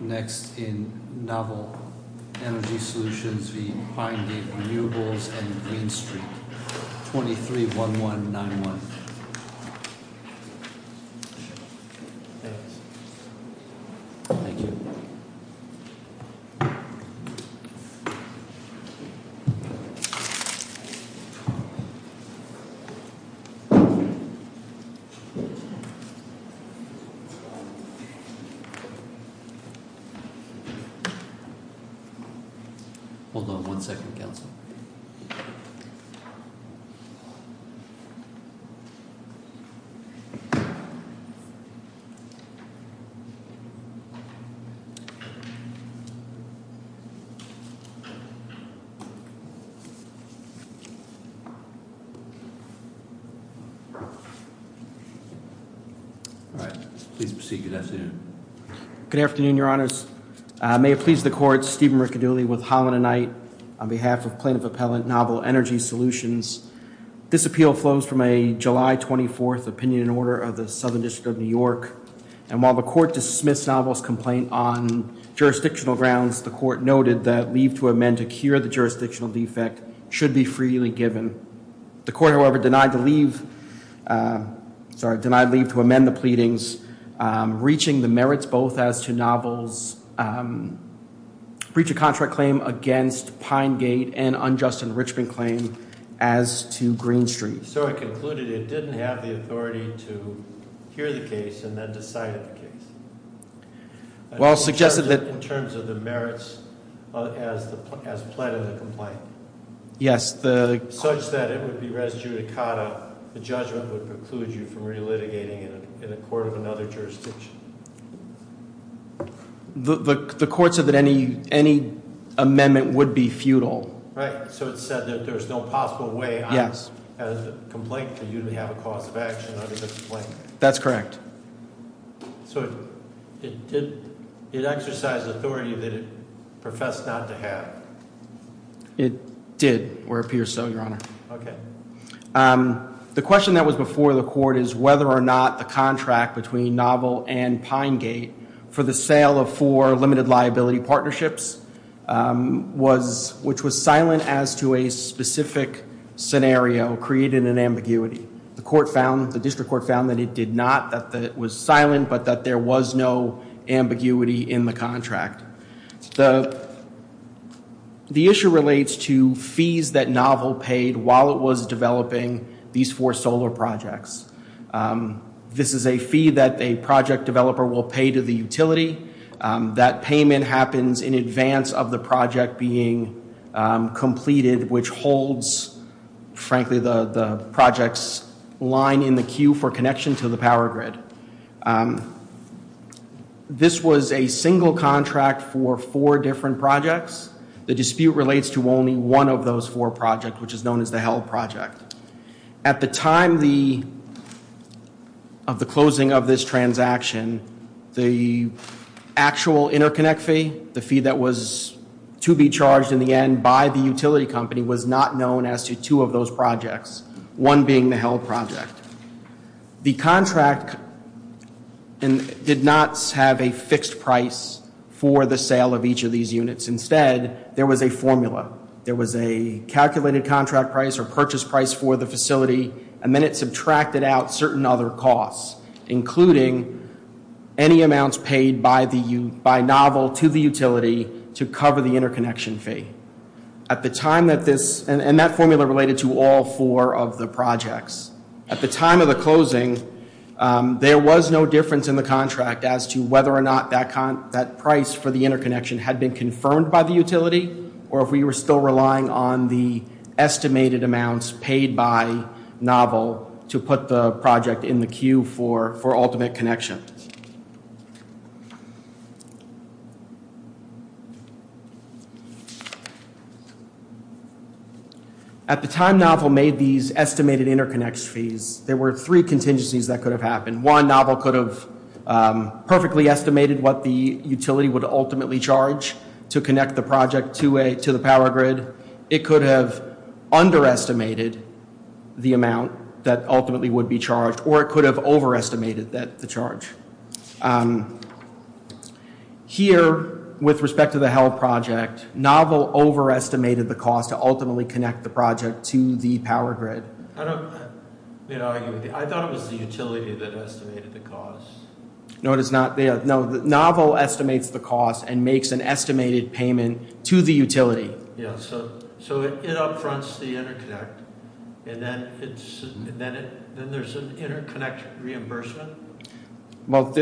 Next in Novel Energy Solutions v. Pine Gate Renewables and Green Street, 23-1191. Hold on one second, counsel. All right. Please proceed. Good afternoon. Good afternoon, Your Honor. May it please the Court, Stephen Riccidulli with Holland and Knight on behalf of Plaintiff Appellant Novel Energy Solutions. This appeal flows from a July 24th opinion order of the Southern District of New York. And while the court dismissed Novel's complaint on jurisdictional grounds, the court noted that leave to amend to cure the jurisdictional defect should be freely given. The court, however, denied leave to amend the pleadings, reaching the merits both as to Novel's breach of contract claim against Pine Gate and unjust enrichment claim as to Green Street. So it concluded it didn't have the authority to hear the case and then decide on the case? Well, it suggested that In terms of the merits as pled of the complaint? Yes. Such that it would be res judicata, the judgment would preclude you from re-litigating in a court of another jurisdiction. The court said that any amendment would be futile. Right. So it said that there's no possible way- Yes. As a complaint for you to have a cause of action under the complaint. That's correct. So it exercised authority that it professed not to have? It did, or appears so, Your Honor. Okay. The question that was before the court is whether or not the contract between Novel and Pine Gate for the sale of four limited liability partnerships, which was silent as to a specific scenario, created an ambiguity. The district court found that it did not, that it was silent, but that there was no ambiguity in the contract. The issue relates to fees that Novel paid while it was developing these four solar projects. This is a fee that a project developer will pay to the utility. That payment happens in advance of the project being completed, which holds, frankly, the project's line in the queue for connection to the power grid. This was a single contract for four different projects. The dispute relates to only one of those four projects, which is known as the held project. At the time of the closing of this transaction, the actual interconnect fee, the fee that was to be charged in the end by the utility company, was not known as to two of those projects, one being the held project. The contract did not have a fixed price for the sale of each of these units. Instead, there was a formula. There was a calculated contract price or purchase price for the facility, and then it subtracted out certain other costs, including any amounts paid by Novel to the utility to cover the interconnection fee. That formula related to all four of the projects. At the time of the closing, there was no difference in the contract as to whether or not that price for the interconnection had been confirmed by the utility, or if we were still relying on the estimated amounts paid by Novel to put the project in the queue for ultimate connection. At the time Novel made these estimated interconnection fees, there were three contingencies that could have happened. One, Novel could have perfectly estimated what the utility would ultimately charge to connect the project to the power grid. It could have underestimated the amount that ultimately would be charged, or it could have overestimated the charge. Here, with respect to the held project, Novel overestimated the cost to ultimately connect the project to the power grid. I thought it was the utility that estimated the cost. No, it is not. Novel estimates the cost and makes an estimated payment to the utility. So it upfronts the interconnect, and then there's an interconnect reimbursement? Well,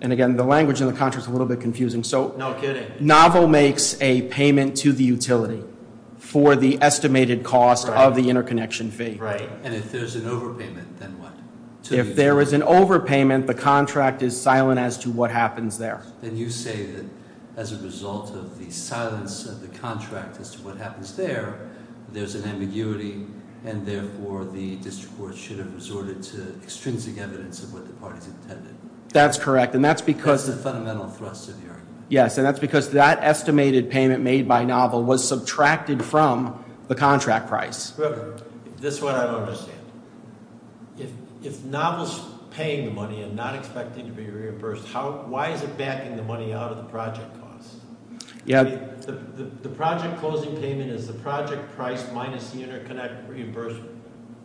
and again, the language in the contract is a little bit confusing. No kidding. Novel makes a payment to the utility for the estimated cost of the interconnection fee. Right, and if there's an overpayment, then what? If there is an overpayment, the contract is silent as to what happens there. Then you say that as a result of the silence of the contract as to what happens there, there's an ambiguity, and therefore the district court should have resorted to extrinsic evidence of what the parties intended. That's correct, and that's because- That's the fundamental thrust of the argument. Yes, and that's because that estimated payment made by Novel was subtracted from the contract price. This is what I don't understand. If Novel's paying the money and not expecting to be reimbursed, why is it backing the money out of the project costs? The project closing payment is the project price minus the interconnect reimbursement,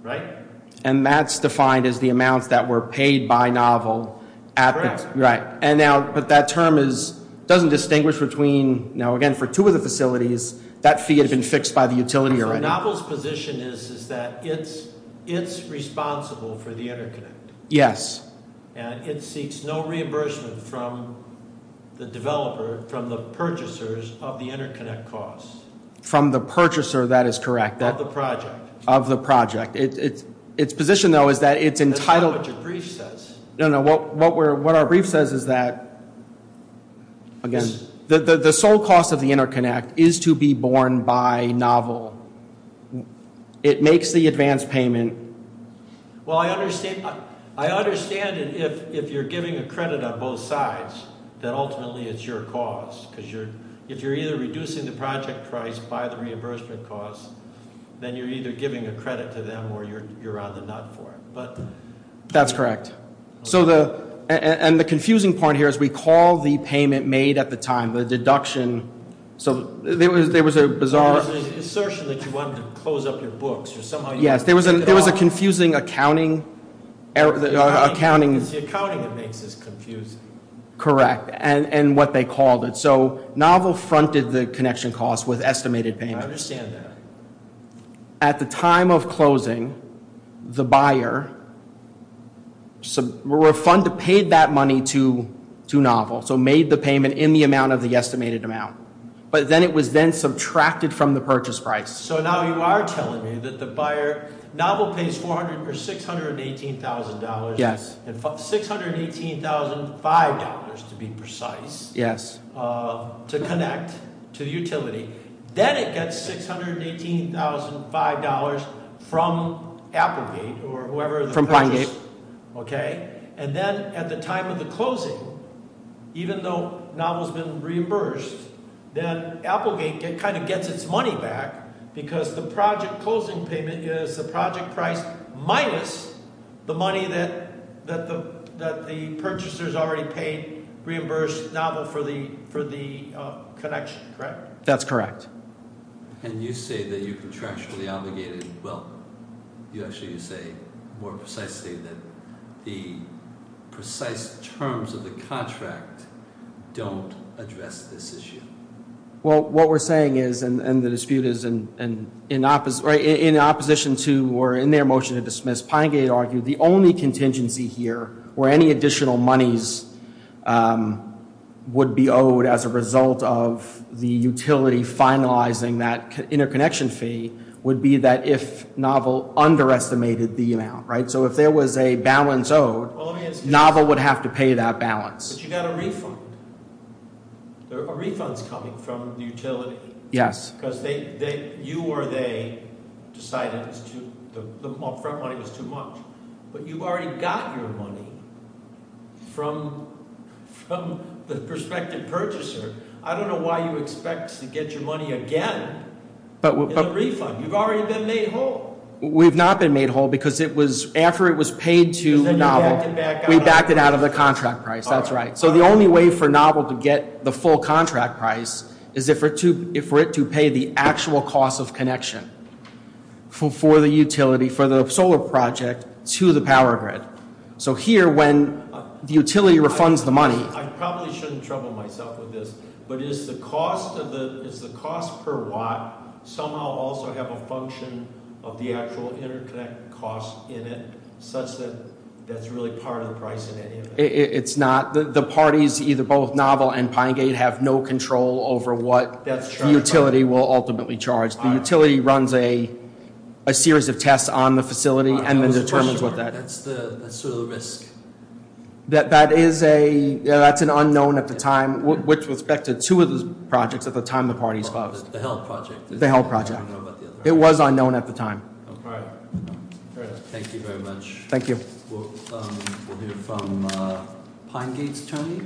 right? And that's defined as the amounts that were paid by Novel. Correct. Right, but that term doesn't distinguish between- Now again, for two of the facilities, that fee had been fixed by the utility already. Novel's position is that it's responsible for the interconnect. Yes. And it seeks no reimbursement from the developer, from the purchasers of the interconnect costs. From the purchaser, that is correct. Of the project. Of the project. Its position, though, is that it's entitled- That's not what your brief says. No, no, what our brief says is that, again, the sole cost of the interconnect is to be borne by Novel. It makes the advance payment. Well, I understand if you're giving a credit on both sides, then ultimately it's your cause, because if you're either reducing the project price by the reimbursement costs, then you're either giving a credit to them or you're on the nut for it. That's correct. And the confusing point here is we call the payment made at the time, the deduction. So there was a bizarre- There was an assertion that you wanted to close up your books. Yes, there was a confusing accounting- It's the accounting that makes this confusing. Correct, and what they called it. So Novel fronted the connection costs with estimated payment. I understand that. At the time of closing, the buyer refunded, paid that money to Novel, so made the payment in the amount of the estimated amount, but then it was then subtracted from the purchase price. So now you are telling me that the buyer- Novel pays $618,000, $618,500 to be precise, to connect to the utility. Then it gets $618,500 from Applegate or whoever- From Pinegate. Okay, and then at the time of the closing, even though Novel's been reimbursed, then Applegate kind of gets its money back because the project closing payment is the project price minus the money that the purchaser's already paid, reimbursed Novel for the connection, correct? That's correct. And you say that you contractually obligated- Well, you actually say more precisely that the precise terms of the contract don't address this issue. Well, what we're saying is, and the dispute is in opposition to or in their motion to dismiss, Pinegate argued the only contingency here where any additional monies would be owed as a result of the utility finalizing that interconnection fee would be that if Novel underestimated the amount, right? So if there was a balance owed, Novel would have to pay that balance. But you got a refund. A refund's coming from the utility. Yes. Because you or they decided the upfront money was too much. But you've already got your money from the prospective purchaser. I don't know why you expect to get your money again as a refund. You've already been made whole. We've not been made whole because after it was paid to Novel, we backed it out of the contract price. That's right. So the only way for Novel to get the full contract price is for it to pay the actual cost of connection for the utility, for the solar project to the power grid. So here, when the utility refunds the money- I probably shouldn't trouble myself with this, but is the cost per watt somehow also have a function of the actual interconnect cost in it, such that that's really part of the price in any event? It's not. The parties, either both Novel and Pinegate, have no control over what the utility will ultimately charge. The utility runs a series of tests on the facility and then determines what that- That's sort of the risk. That is a, that's an unknown at the time, with respect to two of those projects at the time the parties- The Held project. The Held project. It was unknown at the time. All right. Thank you very much. Thank you. We'll hear from Pinegate's Tony,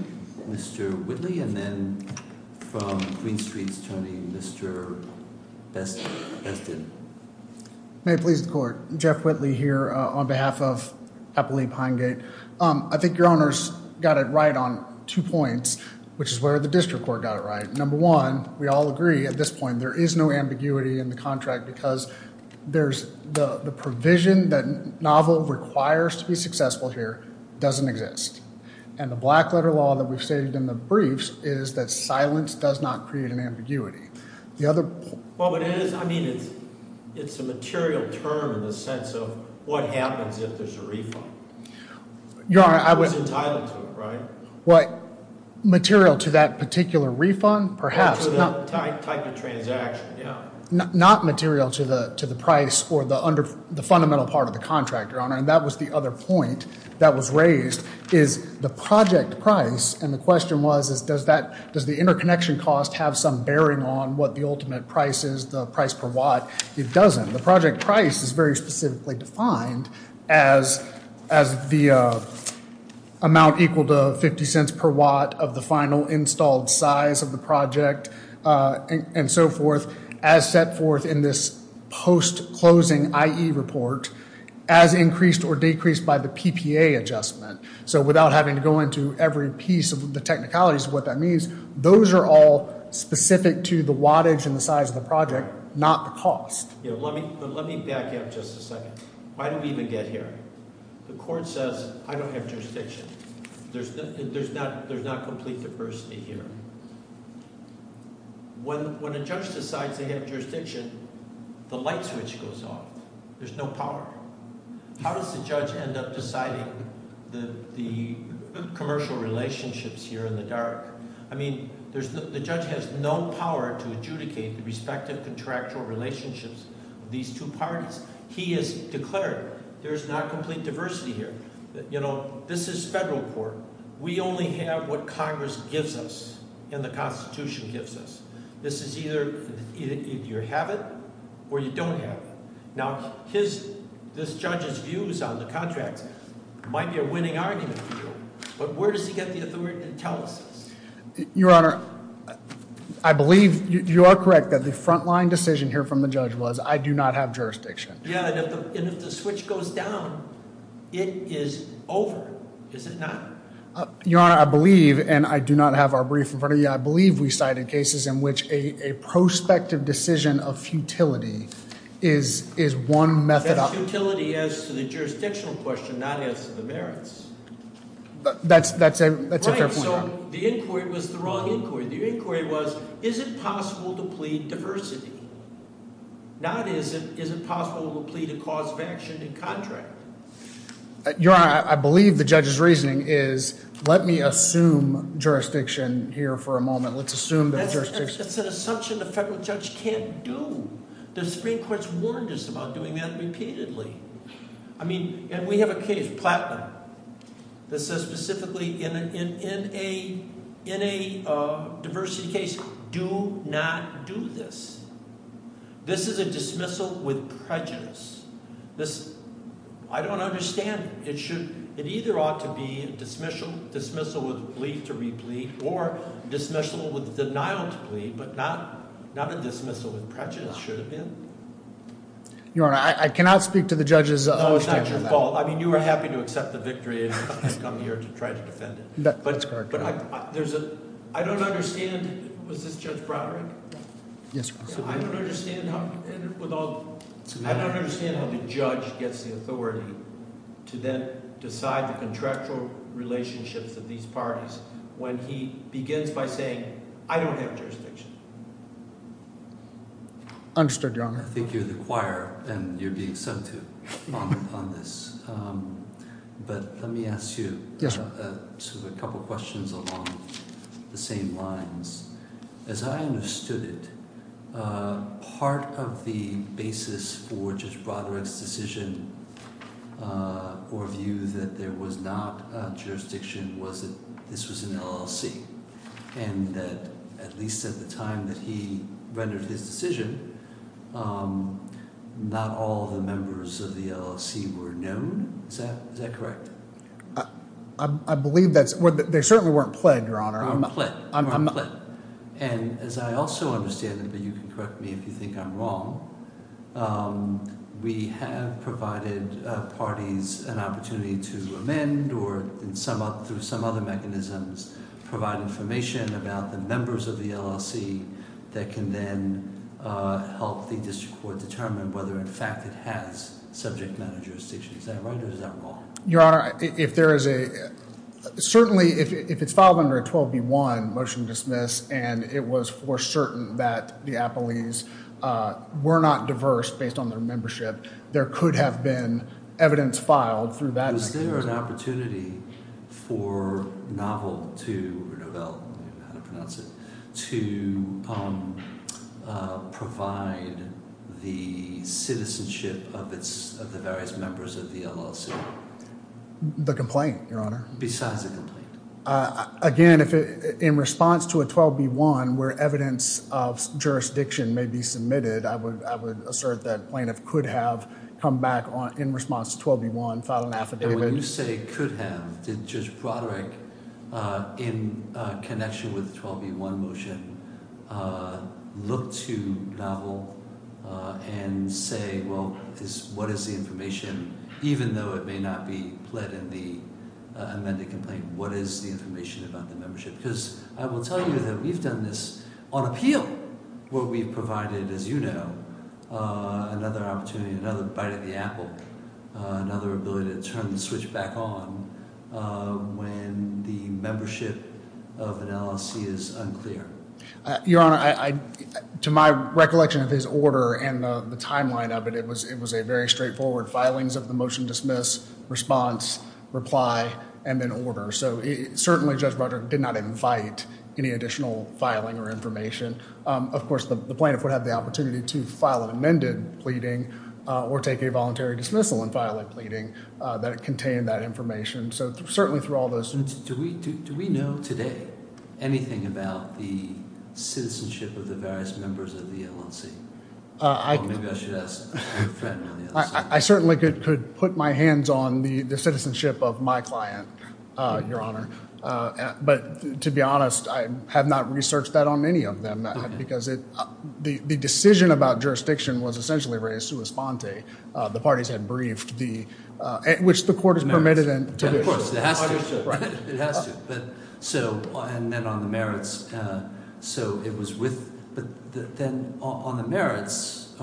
Mr. Whitley, and then from Queen Street's Tony, Mr. Bestin. May it please the court. Jeff Whitley here on behalf of Appalachia Pinegate. I think your honors got it right on two points, which is where the district court got it right. Number one, we all agree at this point there is no ambiguity in the contract because there's the provision that Novel requires to be successful here doesn't exist. And the black letter law that we've stated in the briefs is that silence does not create an ambiguity. The other- Well, it is. I mean, it's a material term in the sense of what happens if there's a refund. I was entitled to it, right? Material to that particular refund? Perhaps. Type of transaction, yeah. Not material to the price or the fundamental part of the contract, your honor. And that was the other point that was raised is the project price. And the question was, does the interconnection cost have some bearing on what the ultimate price is, the price per watt? It doesn't. The project price is very specifically defined as the amount equal to 50 cents per watt of the final installed size of the project and so forth as set forth in this post-closing IE report as increased or decreased by the PPA adjustment. So without having to go into every piece of the technicalities of what that means, those are all specific to the wattage and the size of the project, not the cost. Let me back up just a second. Why did we even get here? The court says, I don't have jurisdiction. There's not complete diversity here. When a judge decides they have jurisdiction, the light switch goes off. There's no power. How does the judge end up deciding the commercial relationships here in the dark? I mean, the judge has no power to adjudicate the respective contractual relationships of these two parties. He has declared there's not complete diversity here. This is federal court. We only have what Congress gives us and the Constitution gives us. This is either you have it or you don't have it. Now, this judge's views on the contract might be a winning argument for you, but where does he get the authority to tell us this? Your Honor, I believe you are correct that the frontline decision here from the judge was I do not have jurisdiction. Yeah, and if the switch goes down, it is over, is it not? Your Honor, I believe, and I do not have our brief in front of you, I believe we cited cases in which a prospective decision of futility is one method. That futility as to the jurisdictional question, not as to the merits. That's a fair point, Your Honor. Right, so the inquiry was the wrong inquiry. The inquiry was, is it possible to plead diversity? Not is it possible to plead a cause of action in contract? Your Honor, I believe the judge's reasoning is let me assume jurisdiction here for a moment. Let's assume there's jurisdiction. That's an assumption the federal judge can't do. The Supreme Court's warned us about doing that repeatedly. I mean, and we have a case, Platinum, that says specifically in a diversity case, do not do this. This is a dismissal with prejudice. This, I don't understand. It should, it either ought to be dismissal with plea to replead or dismissal with denial to plead, but not a dismissal with prejudice, should it be? Your Honor, I cannot speak to the judge's. No, it's not your fault. I mean, you were happy to accept the victory and come here to try to defend it. That's correct, Your Honor. I don't understand, was this Judge Broderick? Yes, Your Honor. I don't understand how the judge gets the authority to then decide the contractual relationships of these parties when he begins by saying I don't have jurisdiction. Understood, Your Honor. I think you're the choir and you're being subdued on this. But let me ask you a couple questions along the same lines. As I understood it, part of the basis for Judge Broderick's decision or view that there was not jurisdiction was that this was an LLC. And that at least at the time that he rendered his decision, not all the members of the LLC were known. Is that correct? I believe that's, they certainly weren't pled, Your Honor. And as I also understand it, but you can correct me if you think I'm wrong. We have provided parties an opportunity to amend or through some other mechanisms provide information about the members of the LLC that can then help the district court determine whether in fact it has subject matter jurisdictions. Is that right or is that wrong? Your Honor, if there is a, certainly if it's filed under a 12B1 motion to dismiss and it was for certain that the Appleys were not diverse based on their membership, there could have been evidence filed through that. Is there an opportunity for Novel to, or Novell, I don't know how to pronounce it, to provide the citizenship of the various members of the LLC? The complaint, Your Honor. Besides the complaint. Again, in response to a 12B1 where evidence of jurisdiction may be submitted, I would assert that plaintiff could have come back in response to 12B1, filed an affidavit. When you say could have, did Judge Broderick, in connection with 12B1 motion, look to Novell and say, well, what is the information, even though it may not be pled in the amended complaint, what is the information about the membership? Because I will tell you that we've done this on appeal where we've provided, as you know, another opportunity, another bite at the apple, another ability to turn the switch back on when the membership of an LLC is unclear. Your Honor, to my recollection of his order and the timeline of it, it was a very straightforward filings of the motion, dismiss, response, reply, and then order. Certainly, Judge Broderick did not invite any additional filing or information. Of course, the plaintiff would have the opportunity to file an amended pleading or take a voluntary dismissal and file a pleading that contained that information. Certainly, through all those... Do we know today anything about the citizenship of the various members of the LLC? I certainly could put my hands on the citizenship of my client. Your Honor, but to be honest, I have not researched that on any of them because the decision about jurisdiction was essentially res sua sponte. The parties had briefed the... which the court has permitted... Of course, it has to. Right. It has to. And then on the merits, so it was with... But then on the merits,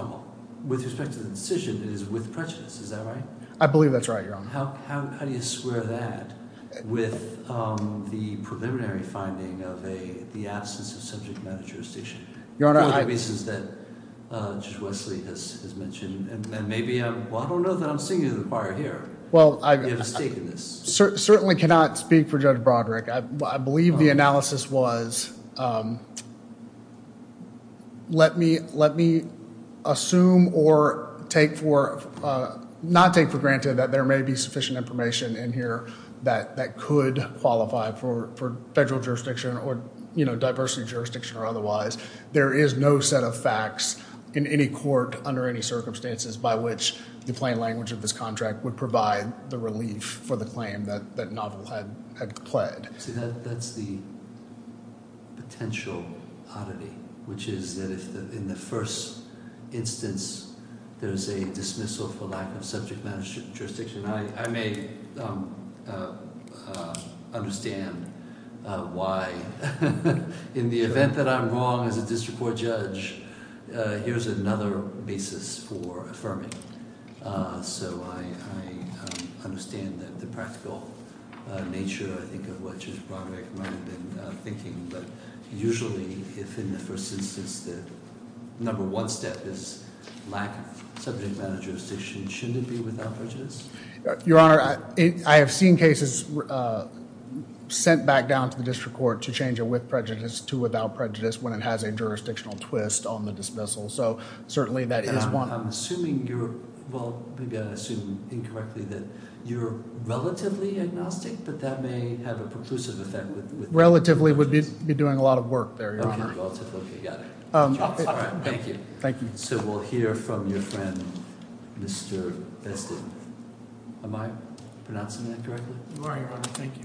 with respect to the decision, it is with prejudice. Is that right? I believe that's right, Your Honor. How do you square that with the preliminary finding of the absence of subject matter jurisdiction? Your Honor, I... One of the reasons that Judge Wesley has mentioned. And maybe I'm... well, I don't know that I'm seeing you in the choir here. Well, I... You have a stake in this. I certainly cannot speak for Judge Broderick. I believe the analysis was let me assume or take for... not take for granted that there may be sufficient information in here that could qualify for federal jurisdiction or diversity jurisdiction or otherwise. There is no set of facts in any court under any circumstances by which the plain language of this contract would provide the relief for the claim that Novel had pled. See, that's the potential oddity, which is that if in the first instance, there is a dismissal for lack of subject matter jurisdiction, I may understand why in the event that I'm wrong as a district court judge, here's another basis for affirming. So I understand that the practical nature, I think, of what Judge Broderick might have been thinking. But usually, if in the first instance, the number one step is lack of subject matter jurisdiction, shouldn't it be without prejudice? Your Honor, I have seen cases sent back down to the district court to change it with prejudice to without prejudice when it has a jurisdictional twist on the dismissal. So certainly that is one... I'm assuming you're... well, maybe I assume incorrectly that you're relatively agnostic, but that may have a preclusive effect with... Relatively would be doing a lot of work there, Your Honor. Okay, got it. All right, thank you. Thank you. So we'll hear from your friend, Mr. Bestin. Am I pronouncing that correctly? You are, Your Honor. Thank you.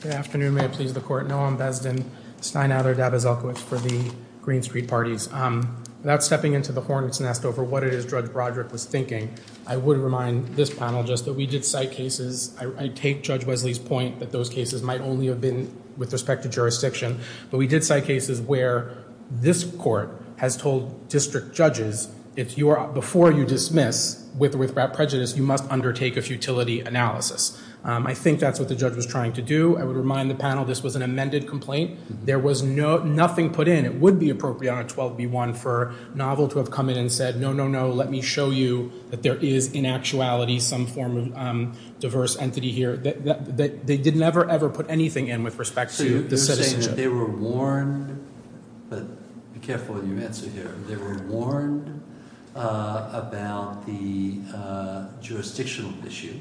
Good afternoon. May it please the Court? Noam Bestin, Steinather, Dabaselkiewicz for the Green Street Parties. Without stepping into the hornet's nest over what it is Judge Broderick was thinking, I would remind this panel just that we did cite cases... I take Judge Wesley's point that those cases might only have been with respect to jurisdiction. But we did cite cases where this court has told district judges, before you dismiss with or without prejudice, you must undertake a futility analysis. I think that's what the judge was trying to do. I would remind the panel this was an amended complaint. There was nothing put in. It would be appropriate on a 12B1 for a novel to have come in and said, no, no, no, let me show you that there is in actuality some form of diverse entity here. They did never, ever put anything in with respect to the citizenship. You're saying that they were warned, but be careful what you answer here. They were warned about the jurisdictional issue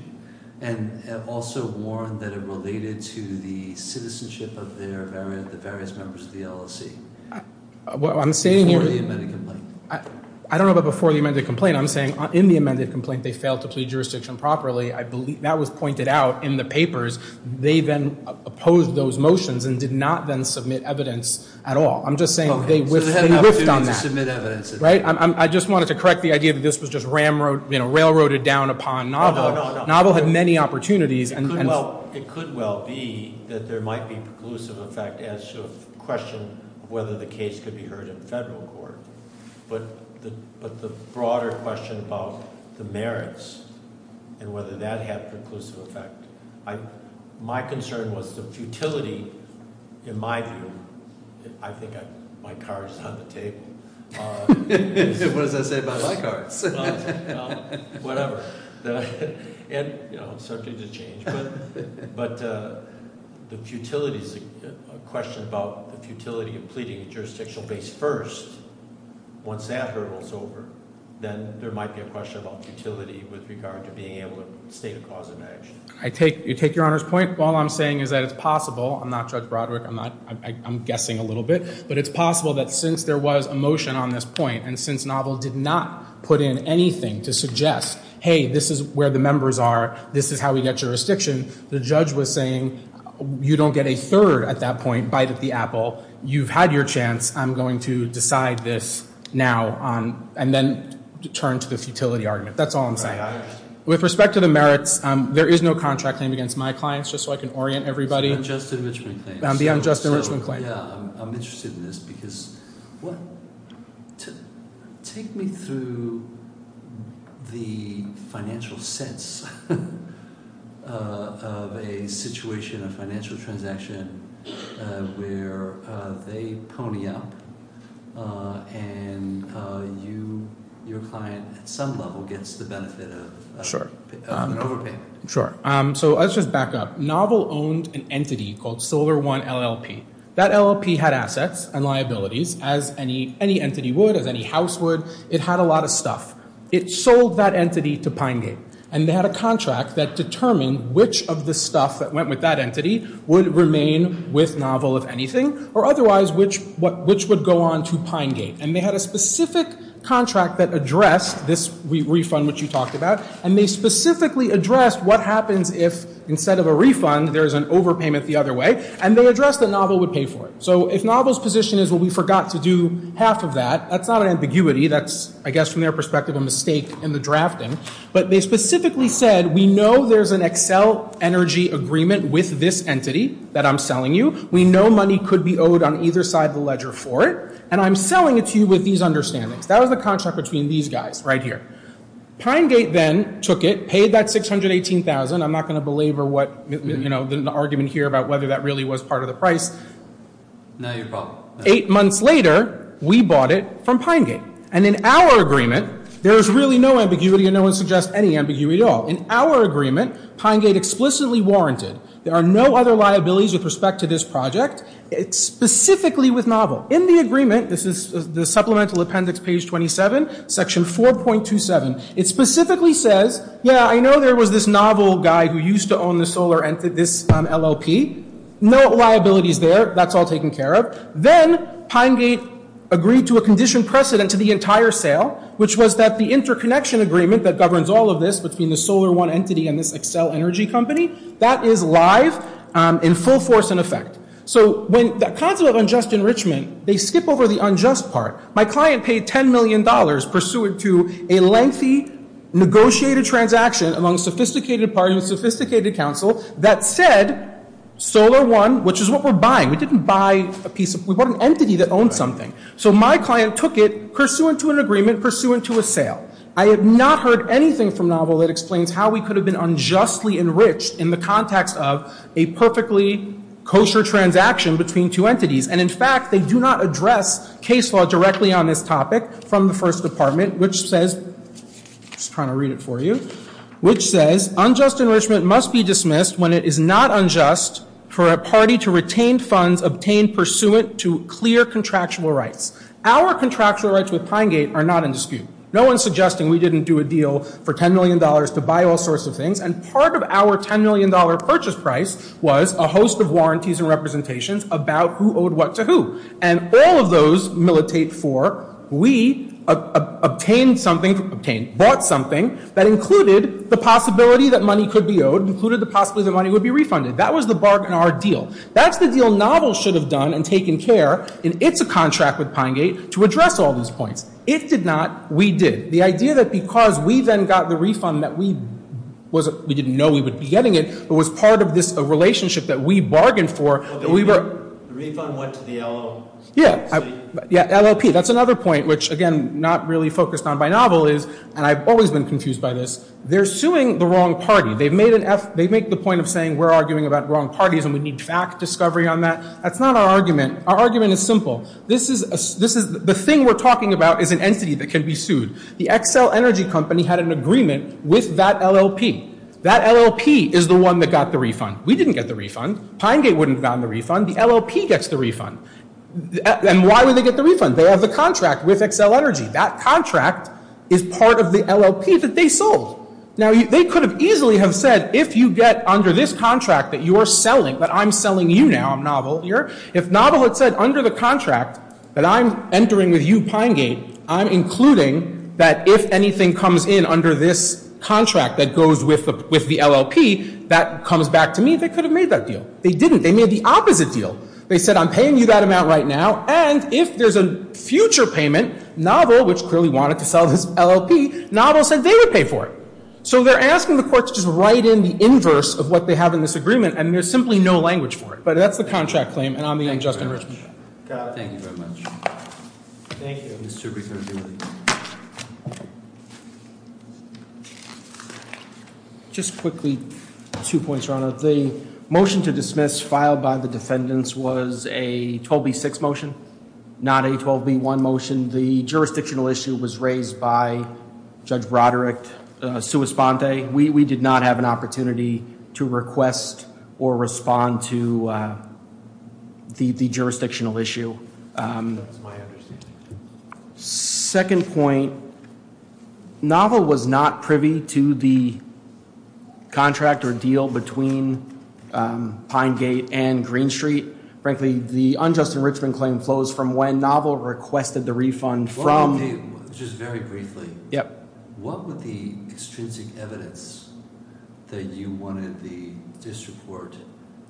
and also warned that it related to the citizenship of the various members of the LLC. Before the amended complaint. I don't know about before the amended complaint. I'm saying in the amended complaint they failed to plead jurisdiction properly. That was pointed out in the papers. They then opposed those motions and did not then submit evidence at all. I'm just saying they whiffed on that. So they had an opportunity to submit evidence. I just wanted to correct the idea that this was just railroaded down upon novel. No, no, no. Novel had many opportunities. It could well be that there might be preclusive effect as to a question of whether the case could be heard in federal court. But the broader question about the merits and whether that had preclusive effect. My concern was the futility in my view. I think my card is on the table. What does that say about my cards? Whatever. And, you know, subject to change. But the futility is a question about the futility of pleading jurisdictional base first. Once that hurdle is over, then there might be a question about futility with regard to being able to state a cause of action. I take your Honor's point. All I'm saying is that it's possible. I'm not Judge Broderick. I'm guessing a little bit. But it's possible that since there was a motion on this point and since novel did not put in anything to suggest, hey, this is where the members are. This is how we get jurisdiction. The judge was saying you don't get a third at that point bite at the apple. You've had your chance. I'm going to decide this now and then turn to the futility argument. That's all I'm saying. With respect to the merits, there is no contract claimed against my clients just so I can orient everybody. The unjust enrichment claim. The unjust enrichment claim. I'm interested in this because take me through the financial sense of a situation, a financial transaction where they pony up and your client at some level gets the benefit of an overpayment. Sure. So let's just back up. Novel owned an entity called Solar One LLP. That LLP had assets and liabilities, as any entity would, as any house would. It had a lot of stuff. It sold that entity to Pine Gate. And they had a contract that determined which of the stuff that went with that entity would remain with novel, if anything, or otherwise which would go on to Pine Gate. And they had a specific contract that addressed this refund which you talked about. And they specifically addressed what happens if, instead of a refund, there's an overpayment the other way. And they addressed that novel would pay for it. So if novel's position is, well, we forgot to do half of that, that's not an ambiguity. That's, I guess, from their perspective, a mistake in the drafting. But they specifically said, we know there's an Excel energy agreement with this entity that I'm selling you. We know money could be owed on either side of the ledger for it. And I'm selling it to you with these understandings. That was the contract between these guys right here. Pine Gate then took it, paid that $618,000. I'm not going to belabor what, you know, the argument here about whether that really was part of the price. Eight months later, we bought it from Pine Gate. And in our agreement, there is really no ambiguity and no one suggests any ambiguity at all. In our agreement, Pine Gate explicitly warranted there are no other liabilities with respect to this project, specifically with novel. In the agreement, this is the supplemental appendix, page 27, section 4.27. It specifically says, yeah, I know there was this novel guy who used to own this LLP. No liabilities there. That's all taken care of. Then Pine Gate agreed to a condition precedent to the entire sale, which was that the interconnection agreement that governs all of this between the Solar One entity and this Excel energy company, that is live in full force and effect. So when the concept of unjust enrichment, they skip over the unjust part. My client paid $10 million pursuant to a lengthy negotiated transaction among a sophisticated party and a sophisticated council that said Solar One, which is what we're buying, we didn't buy a piece of, we bought an entity that owned something. So my client took it pursuant to an agreement, pursuant to a sale. I have not heard anything from novel that explains how we could have been unjustly enriched in the context of a perfectly kosher transaction between two entities. And, in fact, they do not address case law directly on this topic from the First Department, which says, I'm just trying to read it for you, which says unjust enrichment must be dismissed when it is not unjust for a party to retain funds obtained pursuant to clear contractual rights. Our contractual rights with Pine Gate are not in dispute. No one's suggesting we didn't do a deal for $10 million to buy all sorts of things. And part of our $10 million purchase price was a host of warranties and representations about who owed what to who. And all of those militate for we obtained something, obtained, bought something that included the possibility that money could be owed, included the possibility that money would be refunded. That was the bargain, our deal. That's the deal novel should have done and taken care, and it's a contract with Pine Gate, to address all those points. It did not. We did. The idea that because we then got the refund that we didn't know we would be getting it, it was part of this relationship that we bargained for. The refund went to the LLP. Yeah, LLP. That's another point which, again, not really focused on by novel is, and I've always been confused by this, they're suing the wrong party. They make the point of saying we're arguing about wrong parties and we need fact discovery on that. That's not our argument. Our argument is simple. The thing we're talking about is an entity that can be sued. The Xcel Energy Company had an agreement with that LLP. That LLP is the one that got the refund. We didn't get the refund. Pine Gate wouldn't have gotten the refund. The LLP gets the refund. And why would they get the refund? They have the contract with Xcel Energy. That contract is part of the LLP that they sold. Now, they could have easily have said if you get under this contract that you are selling, that I'm selling you now, I'm novel here. If novel had said under the contract that I'm entering with you, Pine Gate, I'm including that if anything comes in under this contract that goes with the LLP, that comes back to me, they could have made that deal. They didn't. They made the opposite deal. They said I'm paying you that amount right now, and if there's a future payment, novel, which clearly wanted to sell this LLP, novel said they would pay for it. So they're asking the court to just write in the inverse of what they have in this agreement, and there's simply no language for it. But that's the contract claim, and I'm the unjust enrichment. Thank you very much. Thank you. Thank you, Mr. President. Just quickly, two points, Your Honor. The motion to dismiss filed by the defendants was a 12B6 motion, not a 12B1 motion. The jurisdictional issue was raised by Judge Broderick. We did not have an opportunity to request or respond to the jurisdictional issue. That's my understanding. Second point, novel was not privy to the contract or deal between Pine Gate and Green Street. Frankly, the unjust enrichment claim flows from when novel requested the refund from Just very briefly, what were the extrinsic evidence that you wanted the district court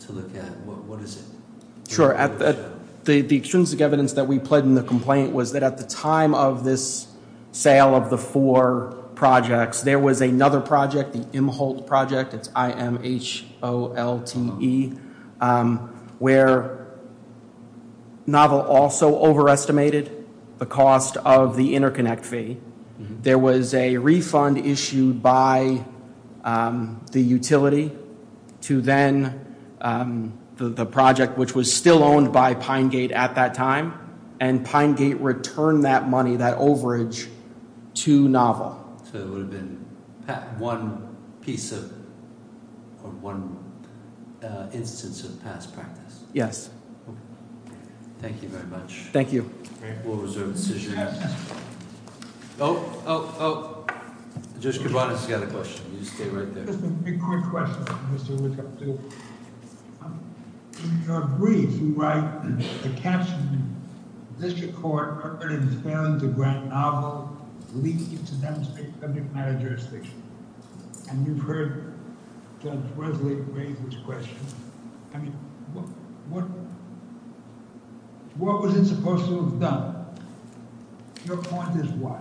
to look at? What is it? Sure. The extrinsic evidence that we pled in the complaint was that at the time of this sale of the four projects, there was another project, the Imholt project, it's I-M-H-O-L-T-E, where novel also overestimated the cost of the interconnect fee. There was a refund issued by the utility to then the project, which was still owned by Pine Gate at that time, and Pine Gate returned that money, that overage, to novel. So it would have been one piece of or one instance of past practice. Yes. Okay. Thank you very much. Thank you. We'll reserve the decision. Yes. Oh, oh, oh. Judge Kibanis, you had a question. You stay right there. Just a quick question, Mr. Woodcock. In your brief, you write a caption in the district court, it is failing to grant novel leave to demonstrate subject matter jurisdiction. And you've heard Judge Wesley raise this question. I mean, what was it supposed to have done? Your point is what?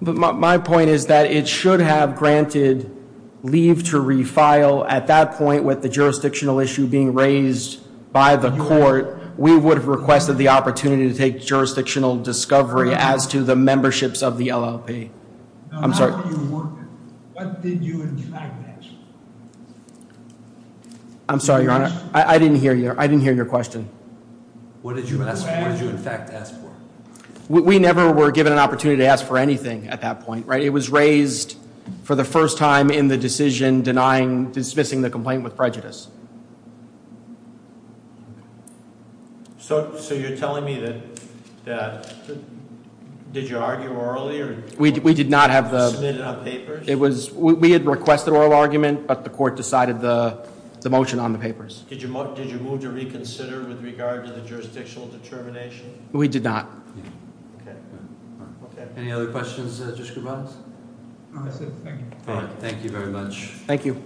My point is that it should have granted leave to refile. At that point, with the jurisdictional issue being raised by the court, we would have requested the opportunity to take jurisdictional discovery as to the memberships of the LLP. I'm sorry. What did you in fact ask? I'm sorry, Your Honor. I didn't hear your question. What did you in fact ask for? We never were given an opportunity to ask for anything at that point. It was raised for the first time in the decision denying, dismissing the complaint with prejudice. So you're telling me that, did you argue orally? We did not have the. Submitted on papers? We had requested oral argument, but the court decided the motion on the papers. Did you move to reconsider with regard to the jurisdictional determination? We did not. Okay. Any other questions, Justice Gervais? No, that's it. Thank you. Thank you very much. Thank you.